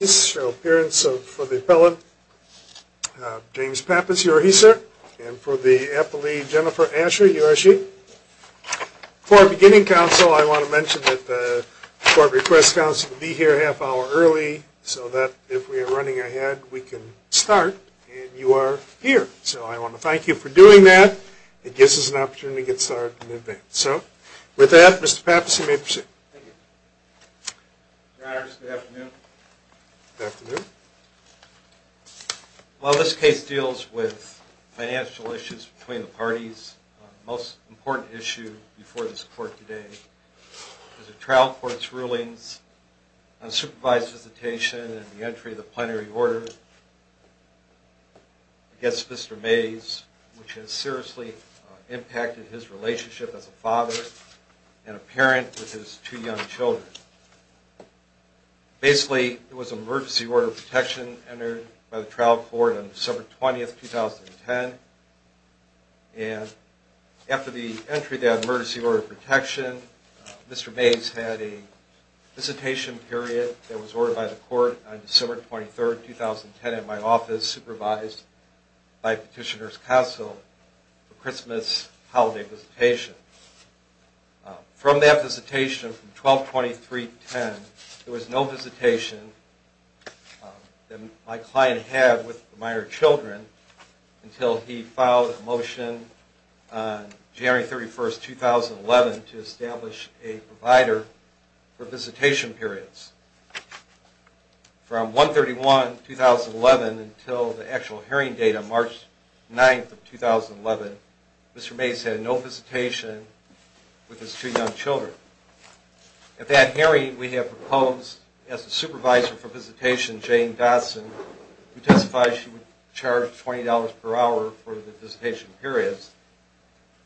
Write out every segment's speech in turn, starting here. Appearance for the appellant, James Pappas, you are here, sir. And for the appellee, Jennifer Asher, you are here, sir. For our beginning counsel, I want to mention that the court requests counsel to be here a half hour early so that if we are running ahead, we can start, and you are here. So I want to thank you for doing that. It gives us an opportunity to get started in advance. So with that, Mr. Pappas, you may proceed. Thank you. Your honors, good afternoon. Good afternoon. While this case deals with financial issues between the parties, the most important issue before this court today is the trial court's rulings on supervised visitation and the entry of the plenary order against Mr. Mayes, which has seriously impacted his relationship as a father and a parent with his two young children. Basically, it was an emergency order of protection entered by the trial court on December 20, 2010. And after the entry of that emergency order of protection, Mr. Mayes had a visitation period that was ordered by the court on December 23, 2010 at my office, supervised by Petitioner's Counsel for Christmas holiday visitation. From that visitation from 12-23-10, there was no visitation that my client had with the minor children until he filed a motion on January 31, 2011 to establish a provider for visitation periods. From 1-31-2011 until the actual hearing date of March 9, 2011, Mr. Mayes had no visitation with his two young children. At that hearing, we had proposed, as a supervisor for visitation, Jane Dodson, who testified she would charge $20 per hour for the visitation periods.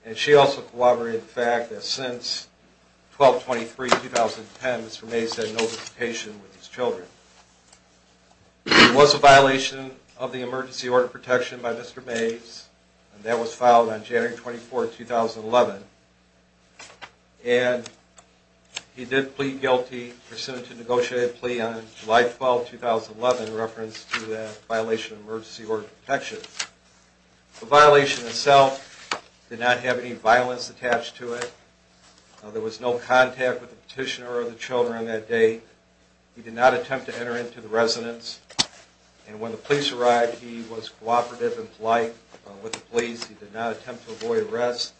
And she also corroborated the fact that since 12-23-2010, Mr. Mayes had no visitation with his children. It was a violation of the emergency order of protection by Mr. Mayes, and that was filed on January 24, 2011. And he did plead guilty, presented to negotiated plea on July 12, 2011 in reference to that violation of emergency order of protection. The violation itself did not have any violence attached to it. There was no contact with the petitioner or the children on that date. He did not attempt to enter into the residence. And when the police arrived, he was cooperative and polite with the police. He did not attempt to avoid arrest.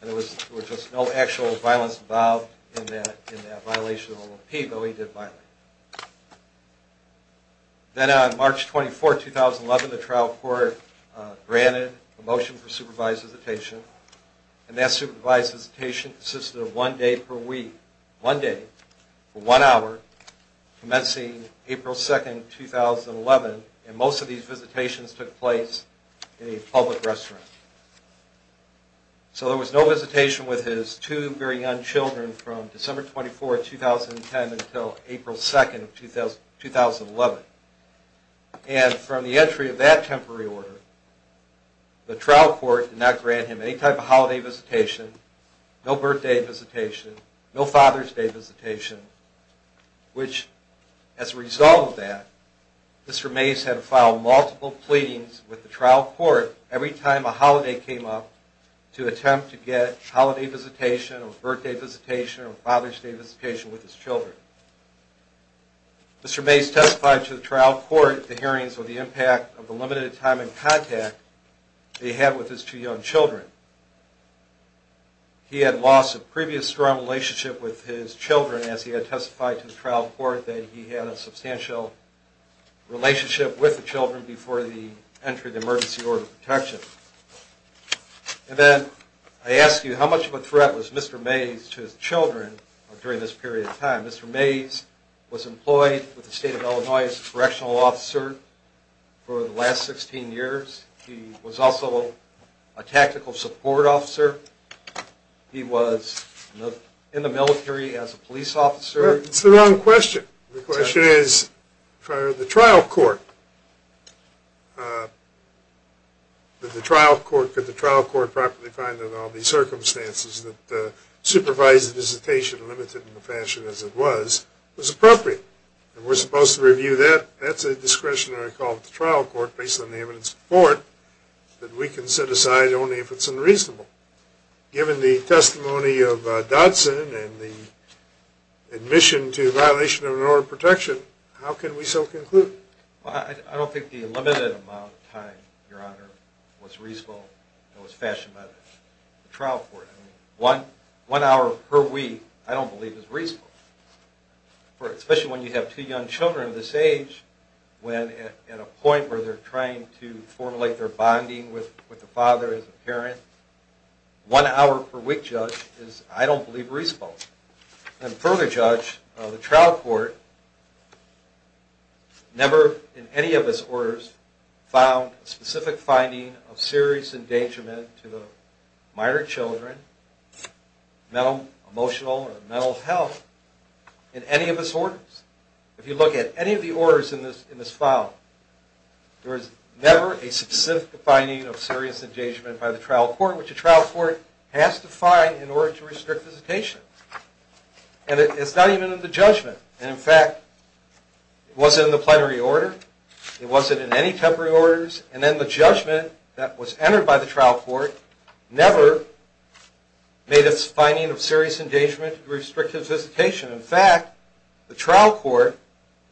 And there was just no actual violence involved in that violation of the plea, though he did violate it. Then on March 24, 2011, the trial court granted a motion for supervised visitation. And that supervised visitation consisted of one day per week, commencing April 2, 2011. And most of these visitations took place in a public restaurant. So there was no visitation with his two very young children from December 24, 2010 until April 2, 2011. And from the entry of that temporary order, the trial court did not grant him any type of holiday visitation, no birthday visitation, no Father's Day visitation. Which, as a result of that, Mr. Mays had to file multiple pleadings with the trial court every time a holiday came up to attempt to get holiday visitation, or birthday visitation, or Father's Day visitation with his children. Mr. Mays testified to the trial court the hearings or the impact of the limited time in contact they had with his two young children. He had lost a previous strong relationship with his children as he had testified to the trial court that he had a substantial relationship with the children before the entry of the emergency order of protection. And then I ask you, how much of a threat was Mr. Mays to his children during this period of time? Mr. Mays was employed with the state of Illinois as a correctional officer for the last 16 years. He was also a tactical sergeant. He was a support officer. He was in the military as a police officer. That's the wrong question. The question is, could the trial court properly find that all the circumstances that supervised the visitation, limited in the fashion as it was, was appropriate? And we're supposed to review that. That's a discretionary call to the trial court, based on the evidence before it, that we can set aside only if it's unreasonable. Given the testimony of Dodson and the admission to violation of an order of protection, how can we so conclude? I don't think the limited amount of time, Your Honor, was reasonable and was fashioned by the trial court. One hour per week, I don't believe, is reasonable. Especially when you have two young children of this age, when at a point where they're trying to formulate their bonding with the father as a parent, one hour per week, Judge, is, I don't believe, reasonable. And further, Judge, the trial court never, in any of his orders, found a specific finding of serious endangerment to the minor children, mental, emotional, or mental health, in any of his orders. If you look at any of the orders in this file, there is never a specific finding of serious endangerment by the trial court, which a trial court has to find in order to restrict visitation. And it's not even in the judgment. And in fact, it wasn't in the plenary order. It wasn't in any temporary orders. And then the judgment that was entered by the trial court never made a finding of serious endangerment to restrict his visitation. In fact, the trial court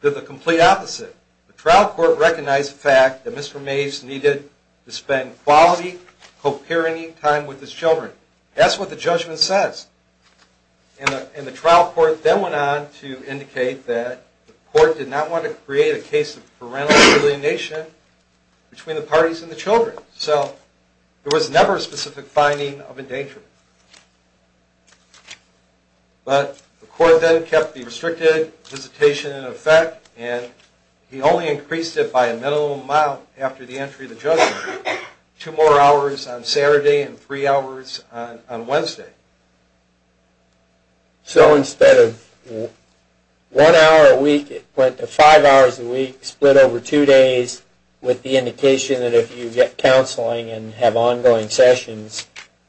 did the complete opposite. The trial court recognized the fact that Mr. Mase needed to spend quality, co-parenting time with his children. That's what the judgment says. And the trial court then went on to indicate that the court did not want to create a case of parental alienation between the parties and the children. So there was never a specific finding of endangerment. But the court then kept the restricted visitation in effect. And he only increased it by a minimal amount after the entry of the judgment. Two more hours on Saturday and three hours on Wednesday. So instead of one hour a week, it went to five hours a week, split over two days, with the indication that if you get counseling and have ongoing sessions,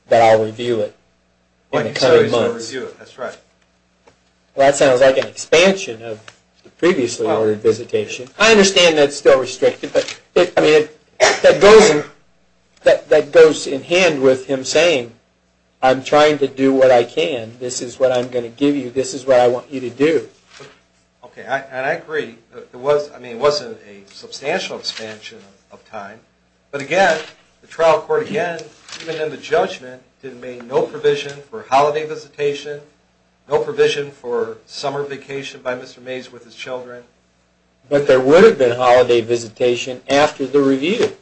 that I'll review it in the coming months. That's right. Well, that sounds like an expansion of the previously ordered visitation. I understand that it's still restricted, but that goes in hand with him saying, I'm trying to do what I can. This is what I'm going to give you. This is what I want you to do. OK, and I agree. I mean, it wasn't a substantial expansion of time. But again, the trial court, again, even in the judgment, did make no provision for holiday visitation, no provision for summer vacation by Mr. Mays with his children. But there would have been holiday visitation after the review.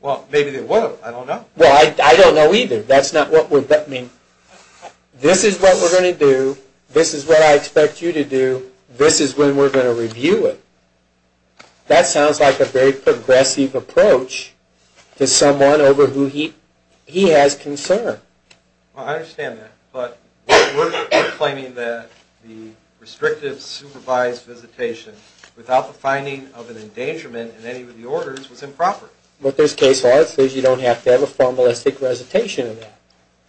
Well, maybe there would have. I don't know. Well, I don't know either. That's not what we're, I mean, this is what we're going to do. This is what I expect you to do. This is when we're going to review it. That sounds like a very progressive approach to someone over who he has concern. Well, I understand that. But we're claiming that the restrictive supervised visitation without the finding of an endangerment in any of the orders was improper. But there's case law. It says you don't have to have a formalistic recitation of that.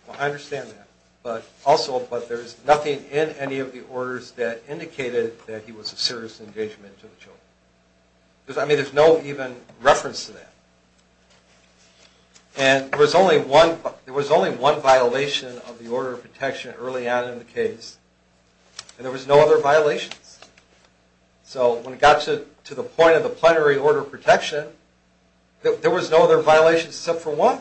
Well, I understand that. But also, but there's nothing in any of the orders that indicated that he was a serious endangerment to the children. Because, I mean, there's no even reference to that. And there was only one violation of the order of protection early on in the case. And there was no other violations. So when it got to the point of the plenary order of protection, there was no other violations except for one.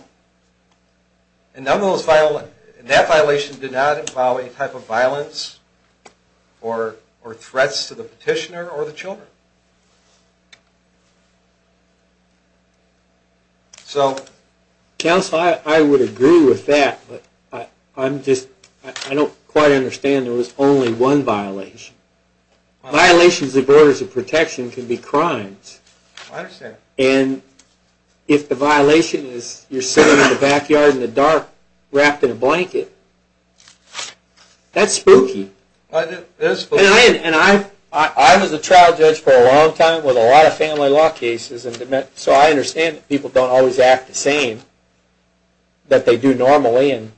And none of those, that violation did not involve any type of violence or threats to the petitioner or the children. So. Counsel, I would agree with that. But I'm just, I don't quite understand there was only one violation. Violations of orders of protection can be crimes. I understand. And if the violation is you're sitting in the backyard in the dark wrapped in a blanket, that's spooky. It is spooky. And I was a trial judge for a long time with a lot of family law cases. So I understand that people don't always act the same that they do normally. And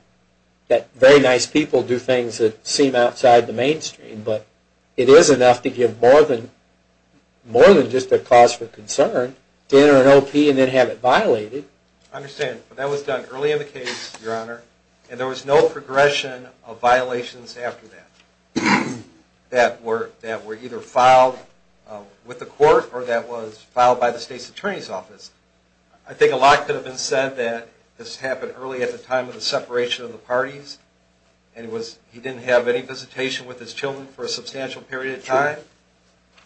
that very nice people do things that seem outside the mainstream. But it is enough to give more than just a cause for concern to enter an OP and then have it violated. I understand. But that was done early in the case, Your Honor. And there was no progression of violations after that. That were either filed with the court or that was filed by the state's attorney's office. I think a lot could have been said that this happened early at the time of the separation of the parties. And he didn't have any visitation with his children for a substantial period of time.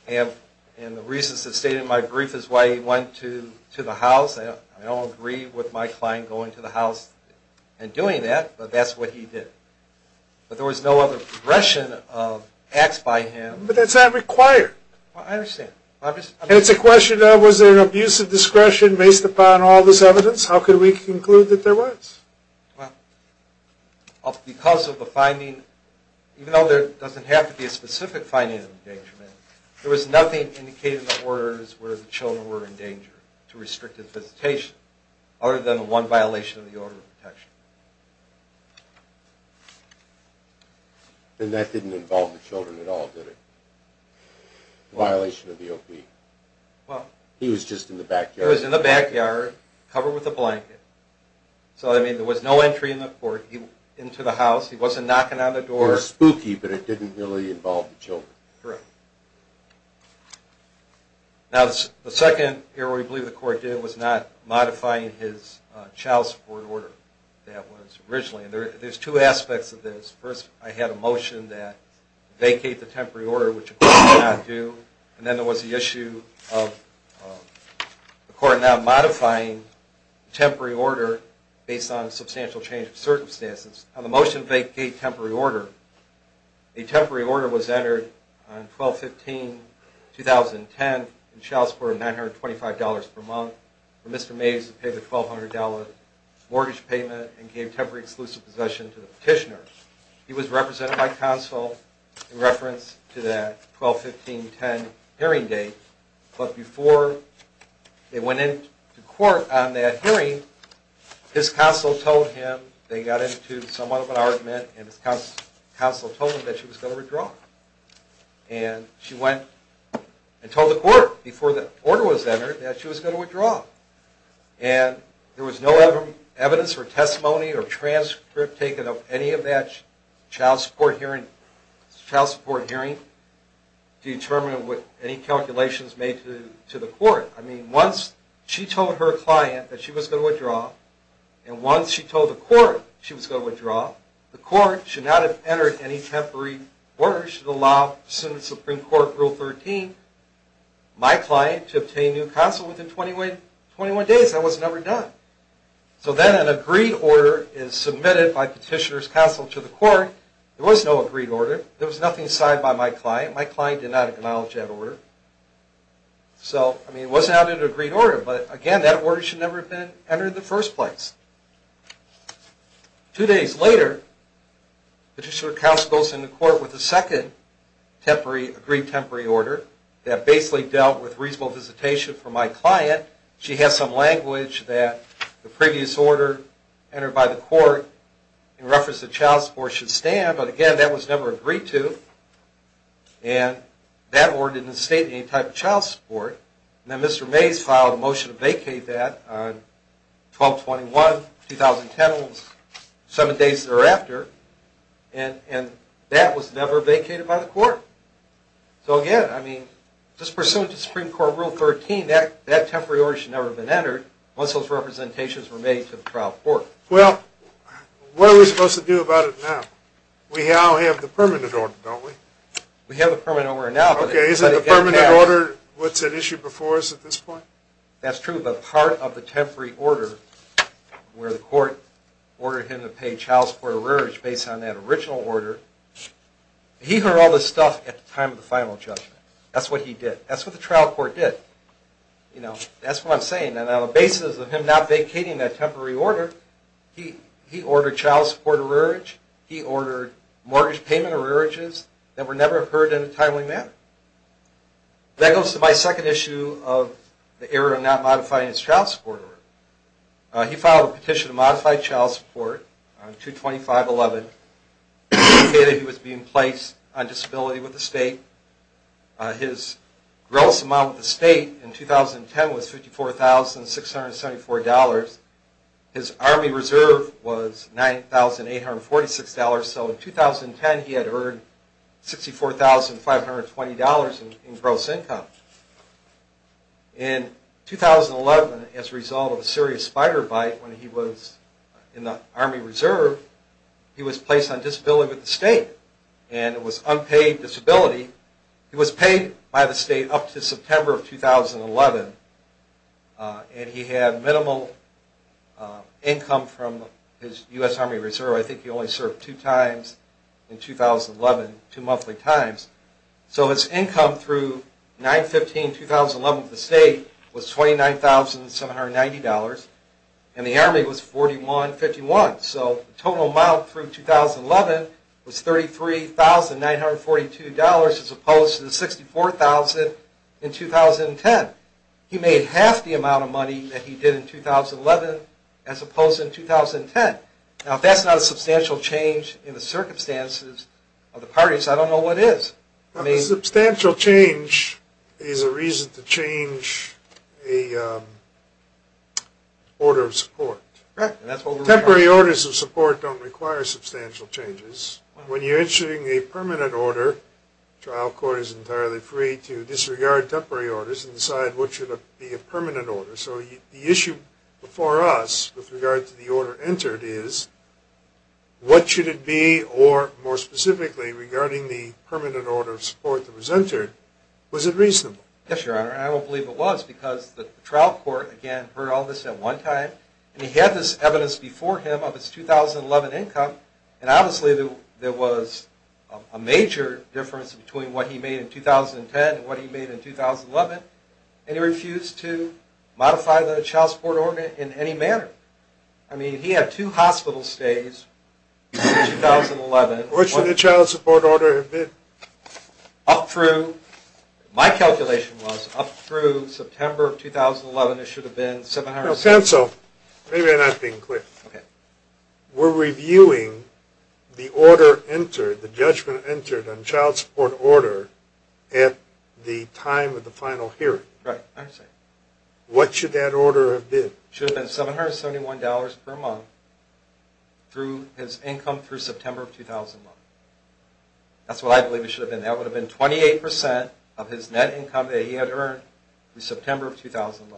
And the reasons that stated in my brief is why he went to the house. I don't agree with my client going to the house and doing that. But that's what he did. But there was no other progression of acts by him. But that's not required. I understand. And it's a question of, was there an abuse of discretion based upon all this evidence? How could we conclude that there was? Because of the finding, even though there doesn't have to be a specific finding of endangerment, there was nothing indicated in the orders where the children were in danger to restrict his visitation other than one violation of the order of protection. And that didn't involve the children at all, did it? Violation of the OP. He was just in the backyard. He was in the backyard, covered with a blanket. So I mean, there was no entry into the house. He wasn't knocking on the door. It was spooky, but it didn't really involve the children. Correct. Now, the second error we believe the court did was not modifying his child support order. That was originally. There's two aspects of this. First, I had a motion that vacate the temporary order, which the court did not do. And then there was the issue of the court not modifying the temporary order based on substantial change of circumstances. On the motion to vacate temporary order, a temporary order was entered on 12-15-2010 in child support of $925 per month for Mr. Mays to pay the $1,200 mortgage payment and gave temporary exclusive possession to the petitioner. He was represented by counsel in reference to that 12-15-10 hearing date. But before they went into court on that hearing, his counsel told him they got into somewhat of an argument, and his counsel told him that she was going to withdraw. And she went and told the court before the order was entered that she was going to withdraw. And there was no evidence or testimony or transcript taken of any of that child support hearing to determine any calculations made to the court. I mean, once she told her client that she was going to withdraw, and once she told the court she was going to withdraw, the court should not have entered any temporary order. It should allow, pursuant to Supreme Court Rule 13, my client to obtain new counsel within 21 days. That was never done. So then an agreed order is submitted by petitioner's counsel to the court. There was no agreed order. There was nothing signed by my client. My client did not acknowledge that order. So I mean, it was not an agreed order. But again, that order should never have been entered in the first place. Two days later, petitioner's counsel goes into court with a second agreed temporary order that basically dealt with reasonable visitation for my client. She has some language that the previous order entered by the court in reference to child support should stand. But again, that was never agreed to. And that order didn't state any type of child support. And then Mr. Mays filed a motion to vacate that on 12-21, 2010, seven days thereafter. And that was never vacated by the court. So again, I mean, just pursuant to Supreme Court Rule 13, that temporary order should never have been entered once those representations were made to the trial court. Well, what are we supposed to do about it now? We now have the permanent order, don't we? We have the permanent order now. OK, is it the permanent order what's at issue before us at this point? That's true, but part of the temporary order where the court ordered him to pay child support or rearage based on that original order, he heard all this stuff at the time of the final judgment. That's what he did. That's what the trial court did. That's what I'm saying. And on the basis of him not vacating that temporary order, he ordered child support or rearage. He ordered mortgage payment or rearages that were never heard in a timely manner. That goes to my second issue of the error of not modifying his child support order. He filed a petition to modify child support on 2-25-11, stating that he was being placed on disability with the state. His gross amount with the state in 2010 was $54,674. His army reserve was $9,846. So in 2010, he had earned $64,520 in gross income. In 2011, as a result of a serious spider bite when he was in the army reserve, he was placed on disability with the state. And it was unpaid disability. He was paid by the state up to September of 2011. And he had minimal income from his US Army Reserve. I think he only served two times in 2011, two monthly times. So his income through 9-15-2011 with the state was $29,790. And the army was $41,051. So the total amount through 2011 was $33,942, as opposed to the $64,000 in 2010. He made half the amount of money that he did in 2011, as opposed to in 2010. Now, if that's not a substantial change in the circumstances of the parties, I don't know what is. Substantial change is a reason to change a order of support. Temporary orders of support don't require substantial changes. When you're issuing a permanent order, trial court is entirely free to disregard temporary orders and decide what should be a permanent order. So the issue before us with regard to the order entered is, what should it be, or more specifically, regarding the permanent order of support that was entered? Was it reasonable? Yes, Your Honor. And I don't believe it was, because the trial court, again, heard all this at one time. And he had this evidence before him of his 2011 income. And obviously, there was a major difference between what he made in 2010 and what he made in 2011. And he refused to modify the child support order in any manner. I mean, he had two hospital stays in 2011. What should the child support order have been? My calculation was up through September of 2011, it should have been $771. Counsel, maybe I'm not being clear. We're reviewing the order entered, the judgment entered on child support order at the time of the final hearing. Right, I understand. What should that order have been? Should have been $771 per month through his income through September of 2011. That's what I believe it should have been. That would have been 28% of his net income that he had earned through September of 2011.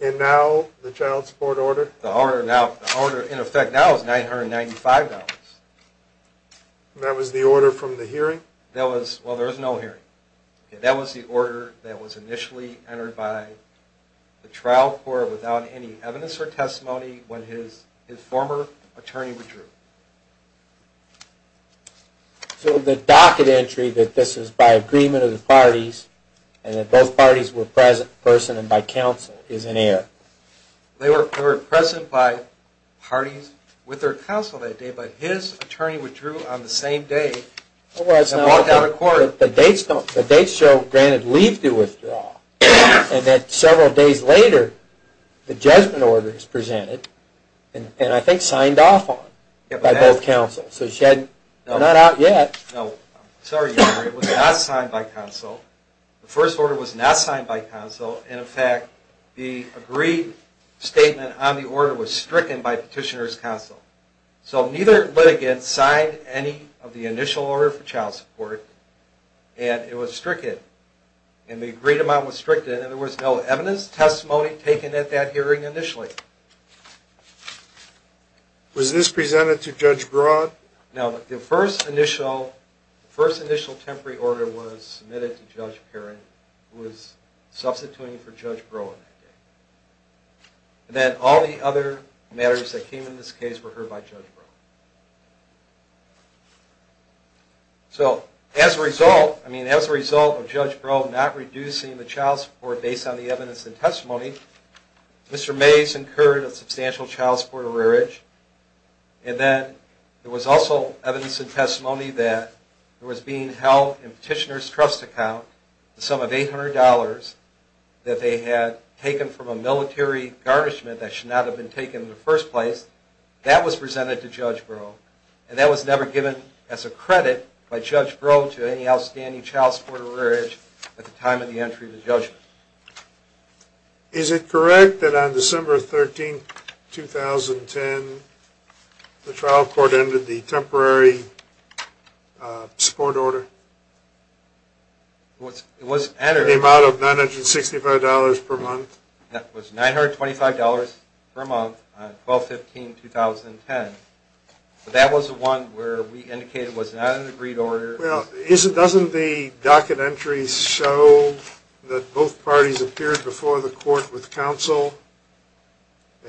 And now, the child support order? The order, in effect, now is $995. That was the order from the hearing? Well, there was no hearing. That was the order that was initially entered by the trial court without any evidence or testimony when his former attorney withdrew. So the docket entry that this is by agreement of the parties and that both parties were present in person and by counsel is in error. They were present by parties with their counsel that day, but his attorney withdrew on the same day and walked out of court. The dates show granted leave to withdraw, and that several days later, the judgment order is presented and, I think, signed off on by both counsel. So she had not out yet. No, I'm sorry, Your Honor, it was not signed by counsel. The first order was not signed by counsel, and in fact, the agreed statement on the order was stricken by petitioner's counsel. So neither litigant signed any of the initial order for child support, and it was stricken. And the agreed amount was stricken, and there was no evidence testimony taken at that hearing initially. Was this presented to Judge Broad? No, the first initial temporary order was submitted to Judge Perrin, who was substituting for Judge Breau in that case. And then all the other matters that came in this case were heard by Judge Breau. So as a result, I mean, as a result of Judge Breau not reducing the child support based on the evidence and testimony, Mr. Mays incurred a substantial child support errorage. And then there was also evidence and testimony that there was being held in petitioner's trust account the sum of $800 that they had taken from a military garnishment that should not have been taken in the first place. That was presented to Judge Breau. And that was never given as a credit by Judge Breau to any outstanding child support errorage at the time of the entry of the judgment. Is it correct that on December 13, 2010, the trial court ended the temporary support order? It was entered. The amount of $965 per month? That was $925 per month on 12-15-2010. But that was the one where we indicated was not an agreed order. Well, doesn't the docket entries show that both parties appeared before the court with counsel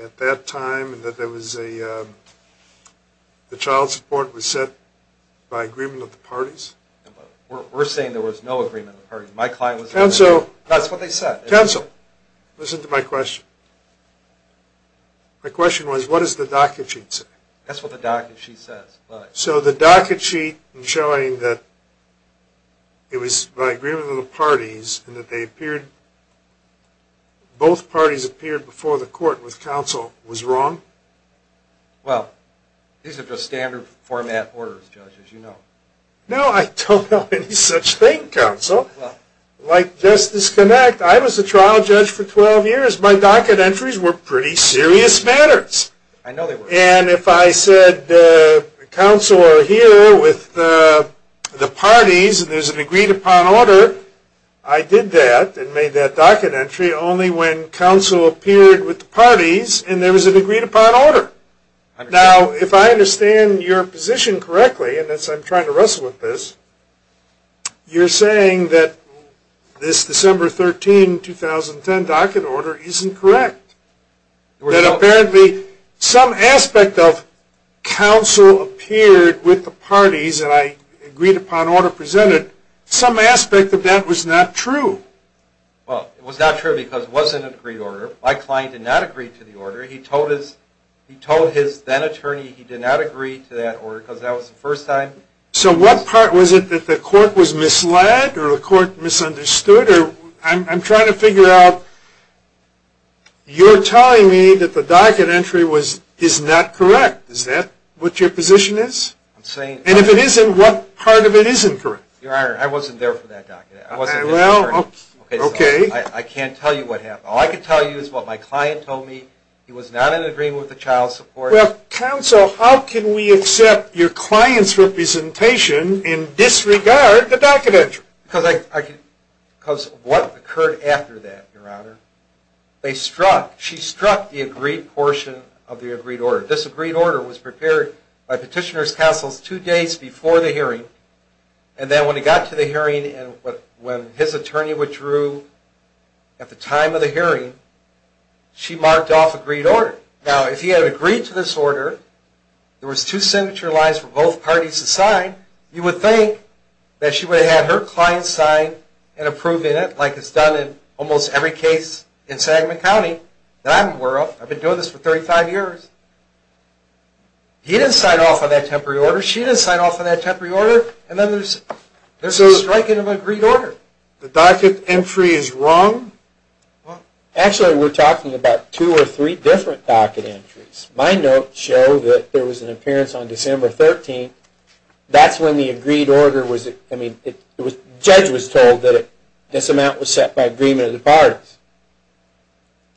at that time and that there was a child support was set by agreement of the parties? We're saying there was no agreement of the parties. My client was there. That's what they said. Counsel, listen to my question. My question was, what does the docket sheet say? That's what the docket sheet says. So the docket sheet showing that it was by agreement of the parties and that both parties appeared before the court with counsel was wrong? Well, these are just standard format orders, Judge, No, I don't know any such thing, Counsel. Like Justice Connacht, I was a trial judge for 12 years. My docket entries were pretty serious matters. I know they were. And if I said, counsel are here with the parties and there's an agreed upon order, I did that and made that docket entry only when counsel appeared with the parties and there was an agreed upon order. Now, if I understand your position correctly, and I'm trying to wrestle with this, you're saying that this December 13, 2010 docket order isn't correct. That apparently some aspect of counsel appeared with the parties and I agreed upon order presented. Some aspect of that was not true. Well, it was not true because it wasn't an agreed order. My client did not agree to the order. He told his then attorney he did not agree to that order because that was the first time. So what part was it that the court was misled or the court misunderstood? I'm trying to figure out, you're telling me that the docket entry is not correct. Is that what your position is? And if it isn't, what part of it isn't correct? Your Honor, I wasn't there for that docket entry. Well, OK. I can't tell you what happened. All I can tell you is what my client told me. He was not in agreement with the child support. Well, counsel, how can we accept your client's representation and disregard the docket entry? Because what occurred after that, Your Honor, she struck the agreed portion of the agreed order. This agreed order was prepared by petitioner's counsels two days before the hearing. And then when he got to the hearing and when his attorney withdrew at the time of the hearing, she marked off agreed order. Now, if he had agreed to this order, there was two signature lines for both parties to sign, you would think that she would have had her client sign and approve it, like it's done in almost every case in Sagamon County that I'm aware of. I've been doing this for 35 years. He didn't sign off on that temporary order. She didn't sign off on that temporary order. And then there's a strike in an agreed order. The docket entry is wrong? Actually, we're talking about two or three different docket entries. My notes show that there was an appearance on December 13. That's when the agreed order was, I mean, judge was told that this amount was set by agreement of the parties.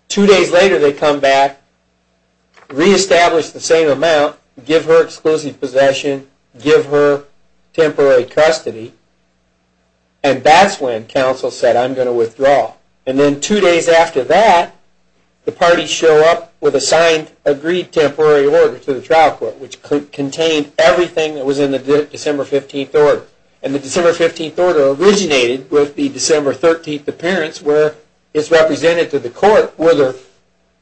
Two days later, they come back, reestablish the same amount, give her exclusive possession, give her temporary custody. And that's when counsel said, I'm going to withdraw. And then two days after that, the parties show up with a signed agreed temporary order to the trial court, which contained everything that was in the December 15 order. And the December 15 order originated with the December 13 appearance, where it's represented to the court, whether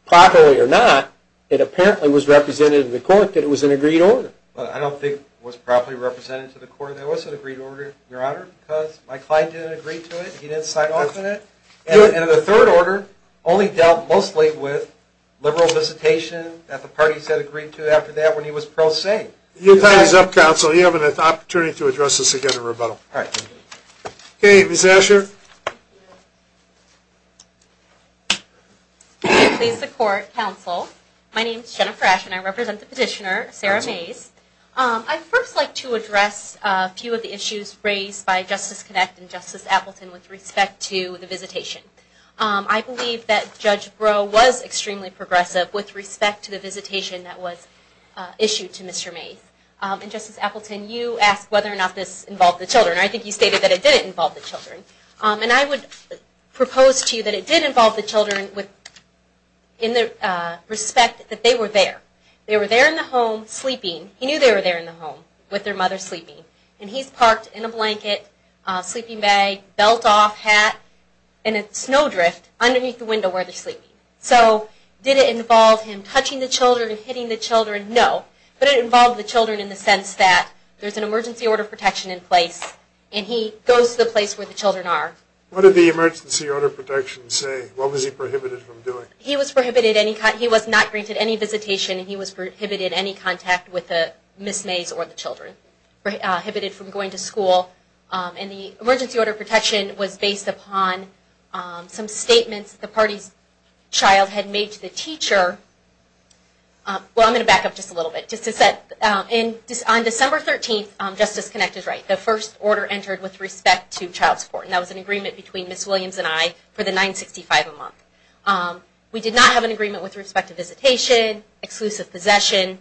properly or not, it apparently was represented to the court that it was an agreed order. I don't think it was properly represented to the court that it was an agreed order, Your Honor, because my client didn't agree to it. He didn't sign off on it. And the third order only dealt mostly with liberal visitation that the parties had agreed to after that when he was pro se. You'll tie these up, counsel. You have an opportunity to address this again in rebuttal. All right. OK, Ms. Asher. I please support counsel. My name's Jennifer Asher, and I represent the petitioner, Sarah Mays. I'd first like to address a few of the issues raised by Justice Connect and Justice Appleton with respect to the visitation. I believe that Judge Breaux was extremely progressive with respect to the visitation that was issued to Mr. Mays. And Justice Appleton, you asked whether or not this involved the children. I think you stated that it didn't involve the children. And I would propose to you that it did involve the children with respect that they were there. They were there in the home sleeping. He knew they were there in the home with their mother sleeping. And he's parked in a blanket, sleeping bag, belt off, hat, and a snow drift underneath the window where they're sleeping. So did it involve him touching the children and hitting the children? No. But it involved the children in the sense that there's an emergency order of protection in place, and he goes to the place where the children are. What did the emergency order of protection say? What was he prohibited from doing? He was prohibited any kind. He was not granted any visitation, and he was prohibited any contact with Ms. Mays or the children, prohibited from going to school. And the emergency order of protection was based upon some statements the party's child had made to the teacher. Well, I'm going to back up just a little bit. Just to set, on December 13th, Justice Connect is right. The first order entered with respect to child support. And that was an agreement between Ms. Williams and I for the $9.65 a month. We did not have an agreement with respect to visitation, exclusive possession,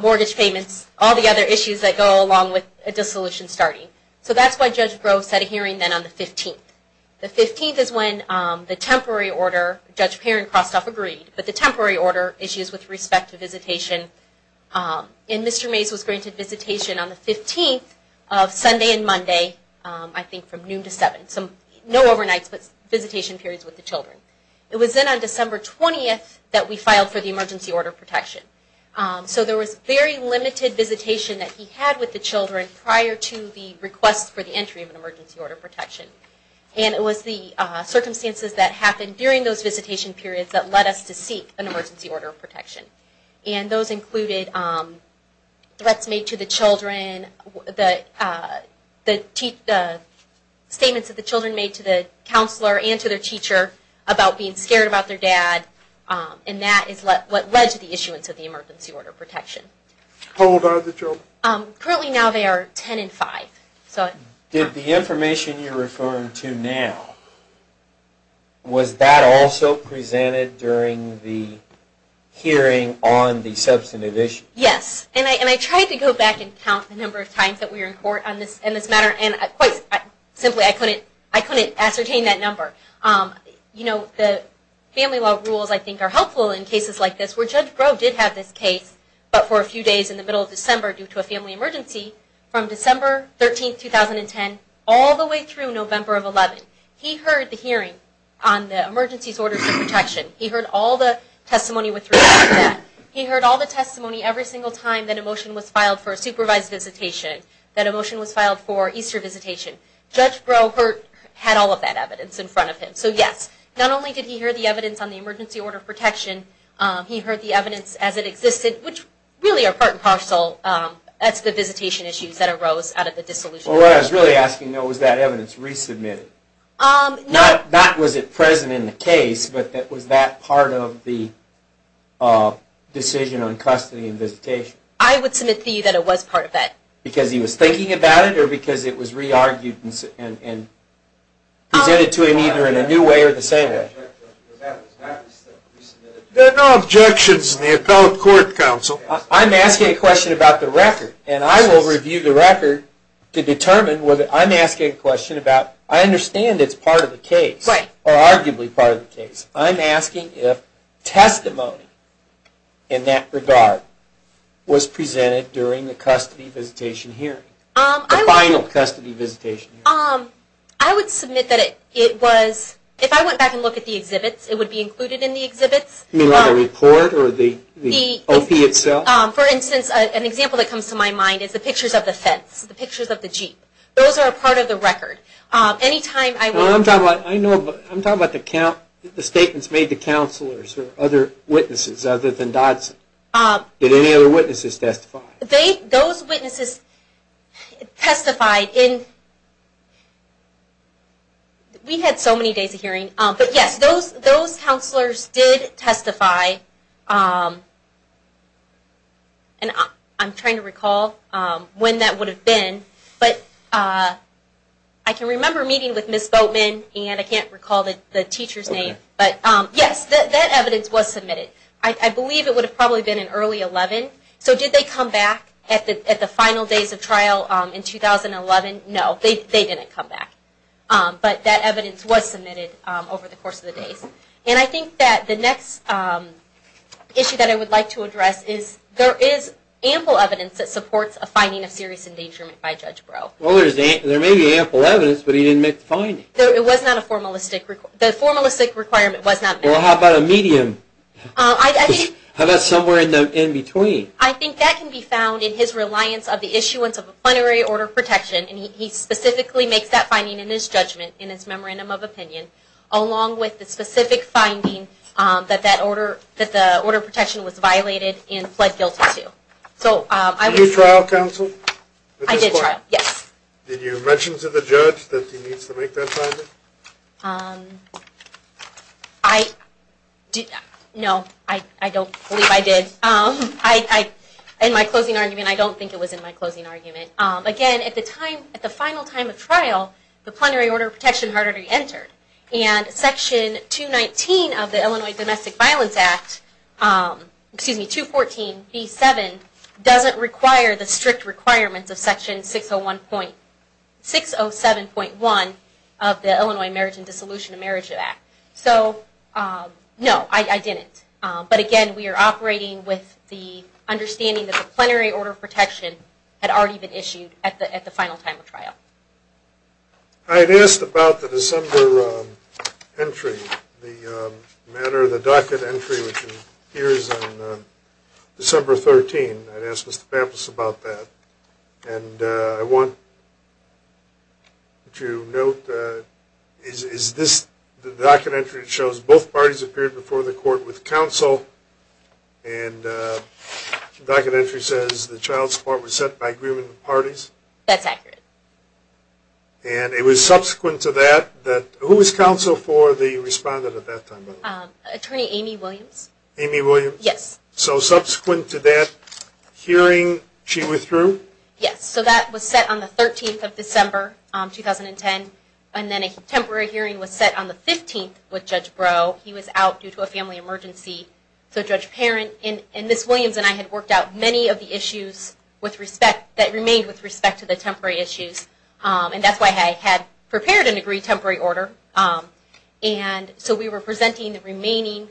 mortgage payments, all the other issues that go along with a dissolution starting. So that's why Judge Grove set a hearing then on the 15th. The 15th is when the temporary order, Judge Perrin-Kostoff agreed, but the temporary order issues with respect to visitation. And Mr. Mays was granted visitation on the 15th of Sunday and Monday, I think from noon to 7, no overnights, but visitation periods with the children. It was then on December 20th that we filed for the emergency order of protection. So there was very limited visitation that he had with the children prior to the request for the entry of an emergency order of protection. And it was the circumstances that happened during those visitation periods that led us to seek an emergency order of protection. And those included threats made to the children, the statements that the children made to the counselor and to their teacher about being scared about their dad. And that is what led to the issuance of the emergency order of protection. How old are the children? Currently now, they are 10 and 5. Did the information you're referring to now, was that also presented during the hearing on the substantive issue? Yes. And I tried to go back and count the number of times that we were in court on this matter. And quite simply, I couldn't ascertain that number. You know, the family law rules, I think, are helpful in cases like this, where Judge Groh did have this case, but for a few days in the middle of December due to a family emergency, from December 13, 2010, all the way through November of 11. He heard the hearing on the emergency order of protection. He heard all the testimony with regard to that. He heard all the testimony every single time that a motion was filed for a supervised visitation, that a motion was filed for Easter visitation. Judge Groh had all of that evidence in front of him. So yes, not only did he hear the evidence on the emergency order of protection, he heard the evidence as it existed, which really are part and parcel as the visitation issues that arose out of the dissolution. Well, what I was really asking, though, was that evidence resubmitted? Not was it present in the case, but was that part of the decision on custody and visitation? I would submit to you that it was part of that. Because he was thinking about it, or because it was re-argued and presented to him either in a new way or the same way? There are no objections in the appellate court, counsel. I'm asking a question about the record. And I will review the record to determine whether I'm asking a question about, I understand it's part of the case, or arguably part of the case. I'm asking if testimony in that regard was presented during the custody visitation hearing. The final custody visitation hearing. I would submit that it was. If I went back and looked at the exhibits, it would be included in the exhibits. You mean like a report or the OP itself? For instance, an example that comes to my mind is the pictures of the fence, the pictures of the jeep. Those are a part of the record. Anytime I went. I know, but I'm talking about the statements made to counselors or other witnesses other than Dodson. Did any other witnesses testify? Those witnesses testified in, we had so many days of hearing. But yes, those counselors did testify. And I'm trying to recall when that would have been. But I can remember meeting with Ms. Boatman. And I can't recall the teacher's name. But yes, that evidence was submitted. I believe it would have probably been in early 11. So did they come back at the final days of trial in 2011? No, they didn't come back. But that evidence was submitted over the course of the days. And I think that the next issue that I would like to address is there is ample evidence that supports a finding of serious endangerment by Judge Breaux. Well, there may be ample evidence, but he didn't make the finding. It was not a formalistic. The formalistic requirement was not met. Well, how about a medium? How about somewhere in between? I think that can be found in his reliance of the issuance of a plenary order of protection. And he specifically makes that finding in his judgment, in his memorandum of opinion, along with the specific finding that the order of protection was violated and pled guilty to. So I would say. Did you trial counsel? I did trial, yes. Did you mention to the judge that he needs to make that finding? Um, I, no, I don't believe I did. I, in my closing argument, I don't think it was in my closing argument. Again, at the time, at the final time of trial, the plenary order of protection had already entered. And section 219 of the Illinois Domestic Violence Act, excuse me, 214b7, doesn't require the strict requirements of section 607.1 of the Illinois Marriage and Dissolution of Marriage Act. So no, I didn't. But again, we are operating with the understanding that the plenary order of protection had already been issued at the final time of trial. I had asked about the December entry, the matter, the docket entry, which appears on December 13. I'd asked Mr. Pampas about that. And I want you to note that the docket entry shows both parties appeared before the court with counsel. And the docket entry says the child support was set by agreement of parties. That's accurate. And it was subsequent to that that, who was counsel for the respondent at that time, by the way? Attorney Amy Williams. Amy Williams? Yes. So subsequent to that hearing, she withdrew? Yes, so that was set on the 13th of December, 2010. And then a temporary hearing was set on the 15th with Judge Brough. He was out due to a family emergency. So Judge Parent and Ms. Williams and I had worked out many of the issues that remained with respect to the temporary issues. And that's why I had prepared an agreed temporary order. And so we were presenting the remaining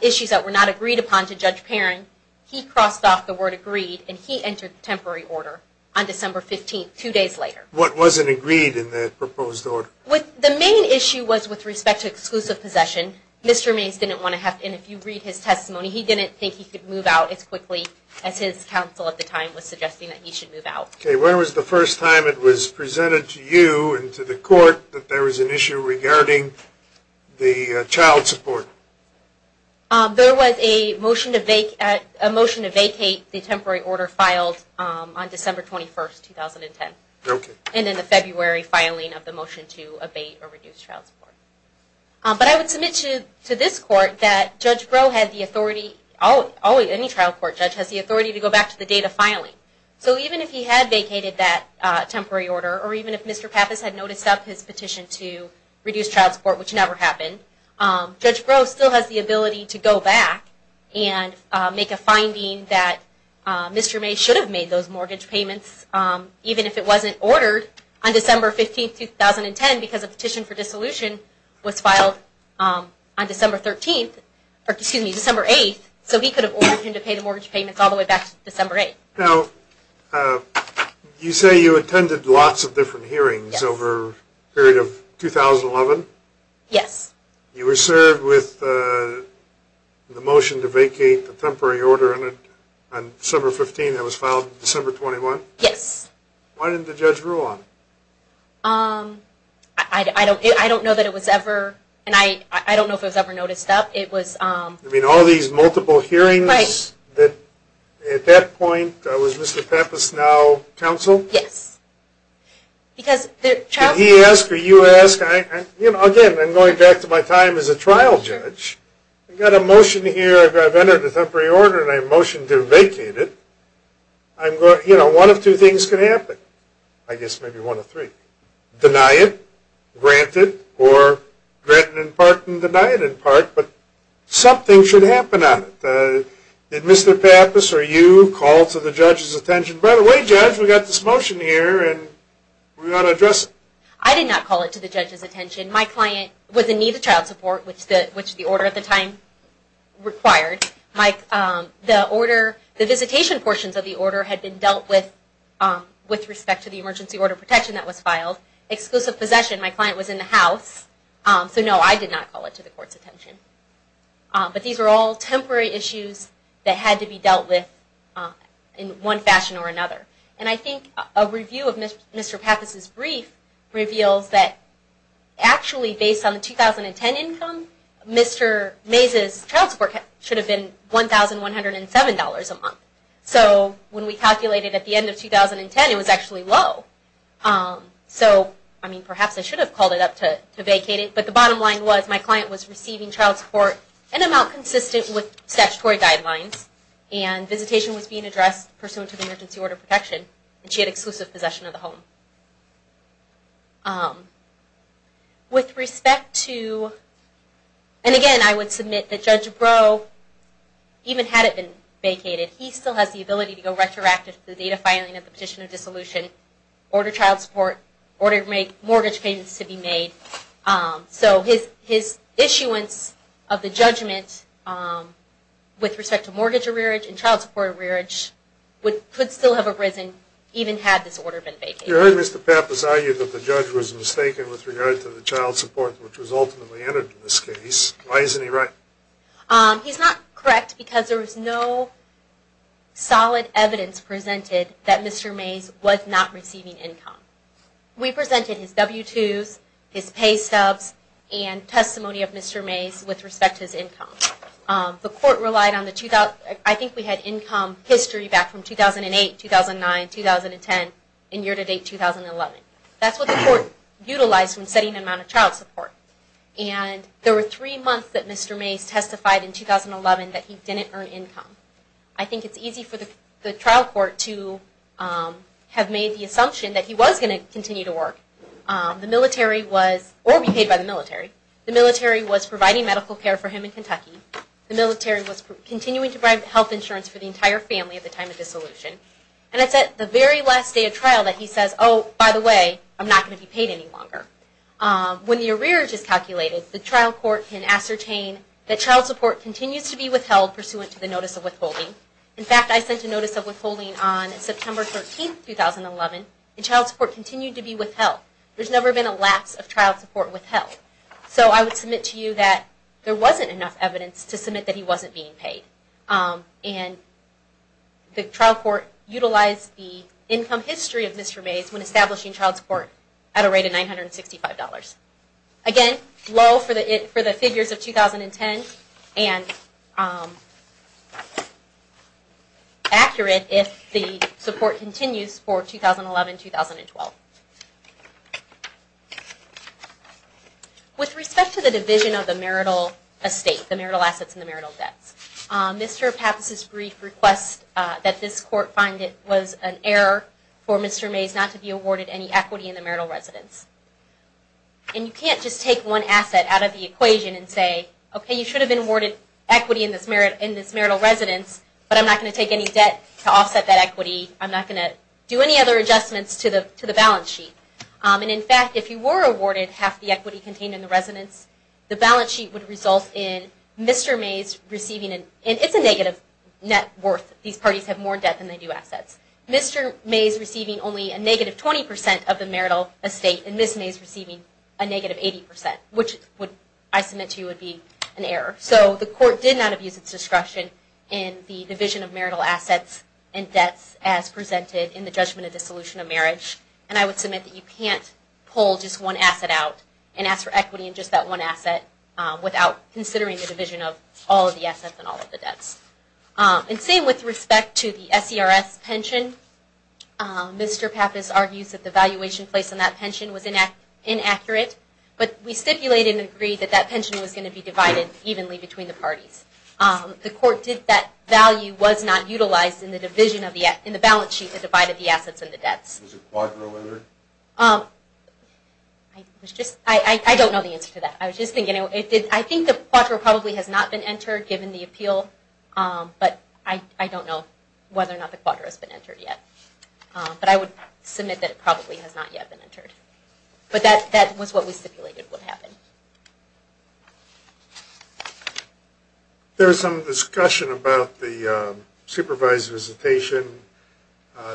issues that were not agreed upon to Judge Parent. He crossed off the word agreed, and he entered the temporary order on December 15, two days later. What wasn't agreed in the proposed order? The main issue was with respect to exclusive possession. Mr. Mays didn't want to have to. And if you read his testimony, he didn't think he could move out as quickly as his counsel at the time was suggesting that he should move out. OK, when was the first time it was presented to you and to the court that there was an issue regarding the child support? There was a motion to vacate the temporary order filed on December 21, 2010. And in the February filing of the motion to abate or reduce child support. But I would submit to this court that Judge Brough had the authority, any trial court judge has the authority to go back to the date of filing. So even if he had vacated that temporary order, or even if Mr. Pappas had noticed up his petition to reduce child support, which never happened, Judge Brough still has the ability to go back and make a finding that Mr. Mays should have made those mortgage payments, even if it wasn't ordered on December 15, 2010, because a petition for dissolution was filed on December 13th, or excuse me, December 8th. So he could have ordered him to pay the mortgage payments all the way back to December 8th. Now, you say you attended lots of different hearings over a period of 2011? Yes. You were served with the motion to vacate the temporary order on December 15 that was filed December 21? Yes. Why didn't the judge rule on it? I don't know that it was ever. And I don't know if it was ever noticed up. It was. You mean all these multiple hearings that, at that point, was Mr. Pappas now counsel? Yes. Because the child support. He asked, or you asked. Again, I'm going back to my time as a trial judge. I've got a motion here. I've entered a temporary order, and I motioned to vacate it. One of two things can happen. I guess maybe one of three. Deny it, grant it, or grant it in part and deny it in part. But something should happen on it. Did Mr. Pappas or you call to the judge's attention, by the way, judge, we've got this motion here, and we've got to address it. I did not call it to the judge's attention. My client was in need of child support, which the order at the time required. The visitation portions of the order had been dealt with with respect to the emergency order protection that was filed. Exclusive possession, my client was in the house. So no, I did not call it to the court's attention. But these are all temporary issues that had to be dealt with in one fashion or another. And I think a review of Mr. Pappas' brief reveals that actually based on the 2010 income, Mr. Mays' child support should have been $1,107 a month. So when we calculated at the end of 2010, it was actually low. So I mean, perhaps I should have called it up to vacate it. But the bottom line was my client was receiving child support an amount consistent with statutory guidelines. And visitation was being addressed pursuant to the emergency order protection. And she had exclusive possession of the home. And again, I would submit that Judge Breaux even had it been vacated, he still has the ability to go retroactive to the data filing of the petition of dissolution, order child support, order mortgage payments to be made. So his issuance of the judgment with respect to mortgage arrearage and child support arrearage could still have arisen even had this order been vacated. You heard Mr. Pappas argue that the judge was mistaken with regard to the child support which was ultimately entered in this case. Why isn't he right? He's not correct because there was no solid evidence presented that Mr. Mays was not receiving income. We presented his W-2s, his pay stubs, and testimony of Mr. Mays with respect to his income. The court relied on the 2000, I think we had income history back from 2008, 2009, 2010, and year-to-date 2011. That's what the court utilized when setting the amount of child support. And there were three months that Mr. Mays testified in 2011 that he didn't earn income. I think it's easy for the trial court to have made the assumption that he was going to continue to work. The military was, or be paid by the military, the military was providing medical care for him in Kentucky. The military was continuing to provide health insurance for the entire family at the time of dissolution. And it's at the very last day of trial that he says, oh, by the way, I'm not going to be paid any longer. When the arrears is calculated, the trial court can ascertain that child support continues to be withheld pursuant to the notice of withholding. In fact, I sent a notice of withholding on September 13, 2011, and child support continued to be withheld. There's never been a lapse of child support withheld. So I would submit to you that there wasn't enough evidence to submit that he wasn't being paid. And the trial court utilized the income history of Mr. Mays when establishing child support at a rate of $965. Again, low for the figures of 2010, and accurate if the support continues for 2011, 2012. With respect to the division of the marital estate, the marital assets and the marital debts, Mr. Pappas' brief requests that this court find it was an error for Mr. Mays not to be awarded any equity in the marital residence. And you can't just take one asset out of the equation and say, OK, you should have been awarded equity in this marital residence, but I'm not going to take any debt to offset that equity. I'm not going to do any other adjustments to the balance sheet. And in fact, if you were awarded half the equity contained in the residence, the balance sheet would result in Mr. Mays receiving a negative net worth. These parties have more debt than they do assets. Mr. Mays receiving only a negative 20% of the marital estate, and Ms. Mays receiving a negative 80%, which I submit to you would be an error. So the court did not abuse its discretion in the division of marital assets and debts as presented in the judgment of dissolution of marriage. And I would submit that you can't pull just one asset out and ask for equity in just that one asset without considering the division of all of the assets and all of the debts. And same with respect to the SERS pension, Mr. Pappas argues that the valuation placed on that pension was inaccurate. But we stipulated and agreed that that pension was going to be divided evenly between the parties. The court did that value was not utilized in the balance sheet that divided the assets and the debts. Was the quadro entered? I don't know the answer to that. I was just thinking, I think the quadro probably has not been entered given the appeal. But I don't know whether or not the quadro has been entered yet. But I would submit that it probably has not yet been entered. But that was what we stipulated would happen. There was some discussion about the supervised visitation.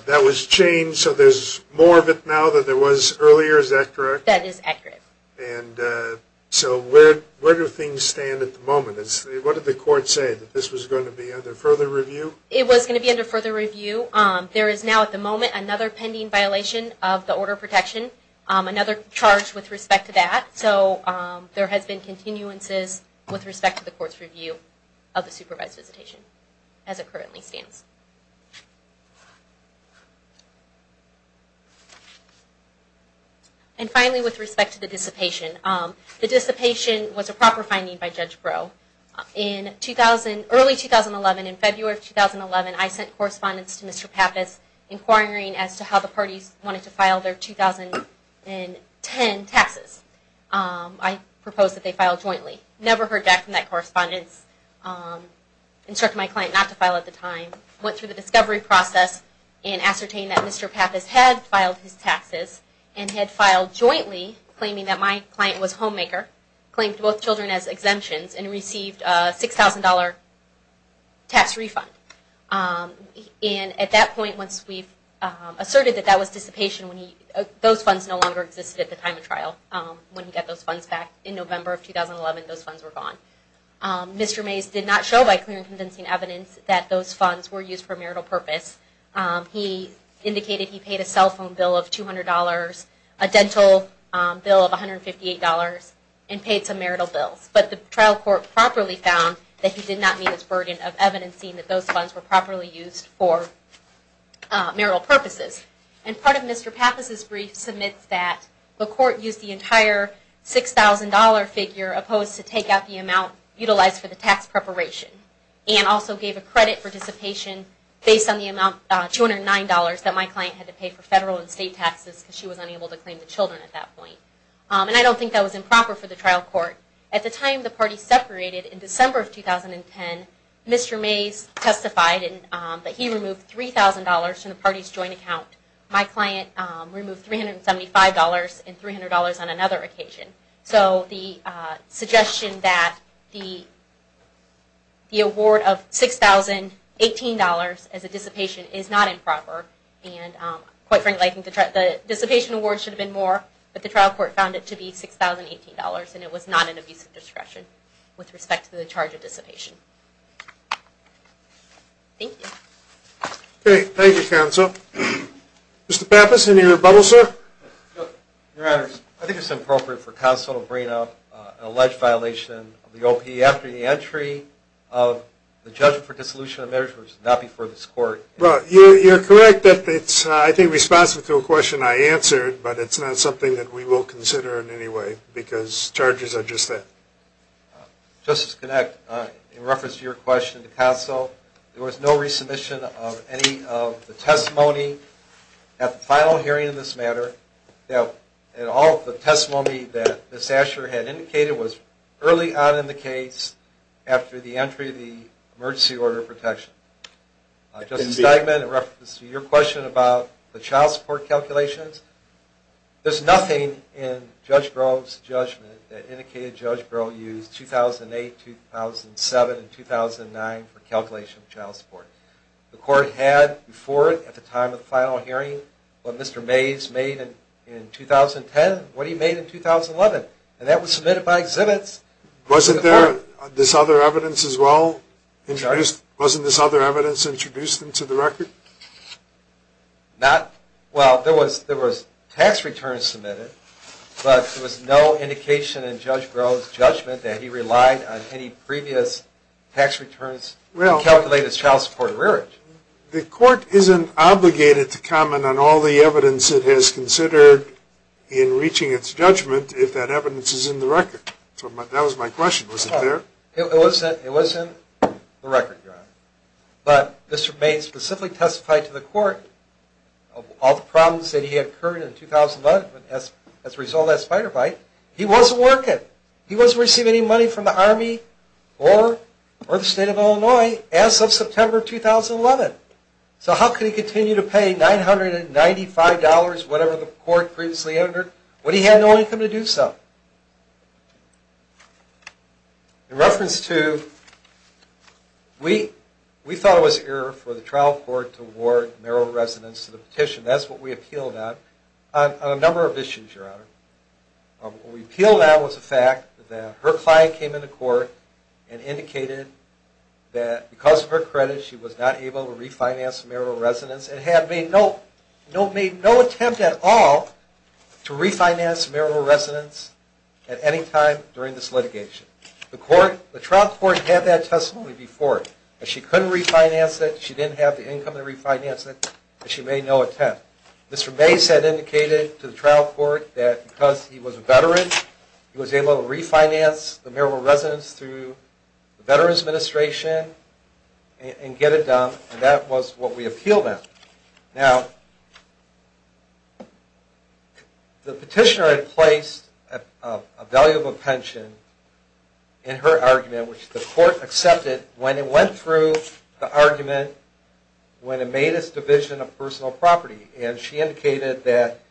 That was changed, so there's more of it now than there was earlier, is that correct? That is accurate. And so where do things stand at the moment? What did the court say, that this was going to be under further review? It was going to be under further review. There is now, at the moment, another pending violation of the order of protection. Another charge with respect to that. So there has been continuances with respect to the court's review of the supervised visitation as it currently stands. And finally, with respect to the dissipation, the dissipation was a proper finding by Judge Breaux. In early 2011, in February of 2011, I sent correspondence to Mr. Pappas inquiring as to how the parties wanted to file their 2010 taxes. I proposed that they file jointly. Never heard back from that correspondence. Instructed my client not to file at the time. Went through the discovery process and ascertained that Mr. Pappas had filed his taxes and had filed jointly, claiming that my client was homemaker. Claimed both children as exemptions and received a $6,000 tax refund. And at that point, once we've asserted that that was dissipation, those funds no longer existed at the time of trial. When we got those funds back in November of 2011, those funds were gone. Mr. Mays did not show by clear and convincing evidence that those funds were used for marital purpose. He indicated he paid a cell phone bill of $200, a dental bill of $158, and paid some marital bills. But the trial court properly found that he did not meet his burden of evidencing that those funds were properly used for marital purposes. And part of Mr. Pappas' brief submits that the court used the entire $6,000 figure, opposed to take out the amount utilized for the tax preparation, and also gave a credit for dissipation based on the amount, $209, that my client had to pay for federal and state taxes because she was unable to claim the children at that point. And I don't think that was improper for the trial court. At the time the party separated in December of 2010, Mr. Mays testified that he removed $3,000 from the party's joint account. My client removed $375 and $300 on another occasion. So the suggestion that the award of $6,018 as a dissipation is not improper. And quite frankly, I think the dissipation award should have been more, but the trial court found it to be $6,018 and it was not an abuse of discretion with respect to the charge of dissipation. Thank you. OK, thank you, counsel. Mr. Pappas, any rebuttal, sir? Your Honor, I think it's appropriate for counsel to bring up an alleged violation of the OP after the entry of the judge for dissolution of measures, not before this court. You're correct that it's, I think, responsive to a question I answered, but it's not something that we will consider in any way because charges are just that. Justice Connick, in reference to your question to counsel, there was no resubmission of any of the testimony at the final hearing in this matter. And all of the testimony that Ms. Asher had indicated was early on in the case after the entry of the emergency order of protection. Justice Steigman, in reference to your question about the child support calculations, there's nothing in Judge Grove's judgment that indicated Judge Grove used 2008, 2007, and 2009 for calculation of child support. The court had before it, at the time of the final hearing, what Mr. Mays made in 2010 and what he made in 2011. And that was submitted by exhibits. Wasn't there this other evidence as well introduced? Wasn't this other evidence introduced into the record? Not, well, there was tax returns submitted, but there was no indication in Judge Grove's judgment that he relied on any previous tax returns to calculate his child support arrearage. The court isn't obligated to comment on all the evidence it has considered in reaching its judgment if that evidence is in the record. That was my question. Was it there? It was in the record, Your Honor. But Mr. Mays specifically testified to the court of all the problems that he had incurred in 2011 as a result of that spider bite. He wasn't working. He wasn't receiving any money from the Army or the state of Illinois as of September of 2011. So how could he continue to pay $995, whatever the court previously entered, when he had no income to do so? In reference to, we thought it was an error for the trial court to award marital residence to the petition. That's what we appealed on. On a number of issues, Your Honor. What we appealed on was the fact that her client came into court and indicated that because of her credit, she was not able to refinance marital residence and had made no attempt at all to refinance marital residence at any time during this litigation. The trial court had that testimony before. She couldn't refinance it. She didn't have the income to refinance it. She made no attempt. Mr. Mace had indicated to the trial court that because he was a veteran, he was able to refinance the marital residence through the Veterans Administration and get it done. And that was what we appealed on. Now, the petitioner had placed a value of a pension in her argument, which the court accepted when it went through the argument when it made its division of personal property. And she indicated that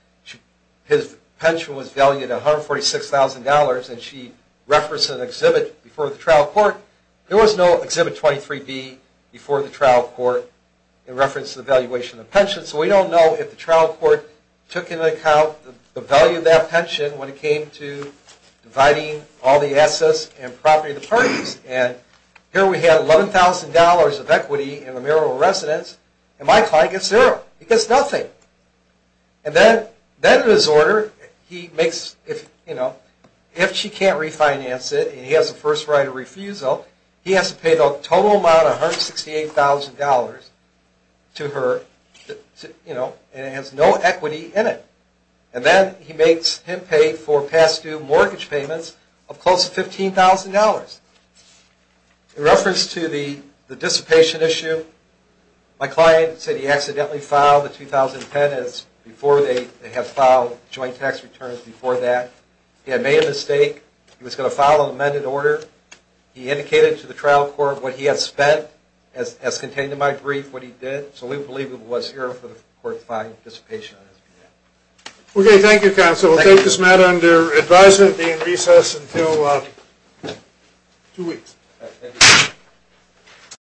his pension was valued at $146,000. And she referenced an exhibit before the trial court. There was no Exhibit 23B before the trial court in reference to the valuation of the pension. So we don't know if the trial court took into account the value of that pension when it came to dividing all the assets and property of the parties. And here we had $11,000 of equity in the marital residence. And my client gets zero. He gets nothing. And then in his order, if she can't refinance it and he has a first right of refusal, he has to pay the total amount of $168,000 to her. And it has no equity in it. And then he makes him pay for past due mortgage payments of close to $15,000. In reference to the dissipation issue, my client said he accidentally filed the 2010 as before they had filed joint tax returns before that. He had made a mistake. He was going to file an amended order. He indicated to the trial court what he had spent as contained in my brief what he did. So we believe it was error for the court to file dissipation on his behalf. OK, thank you, counsel. We'll take this matter under advisement and be in recess until two weeks.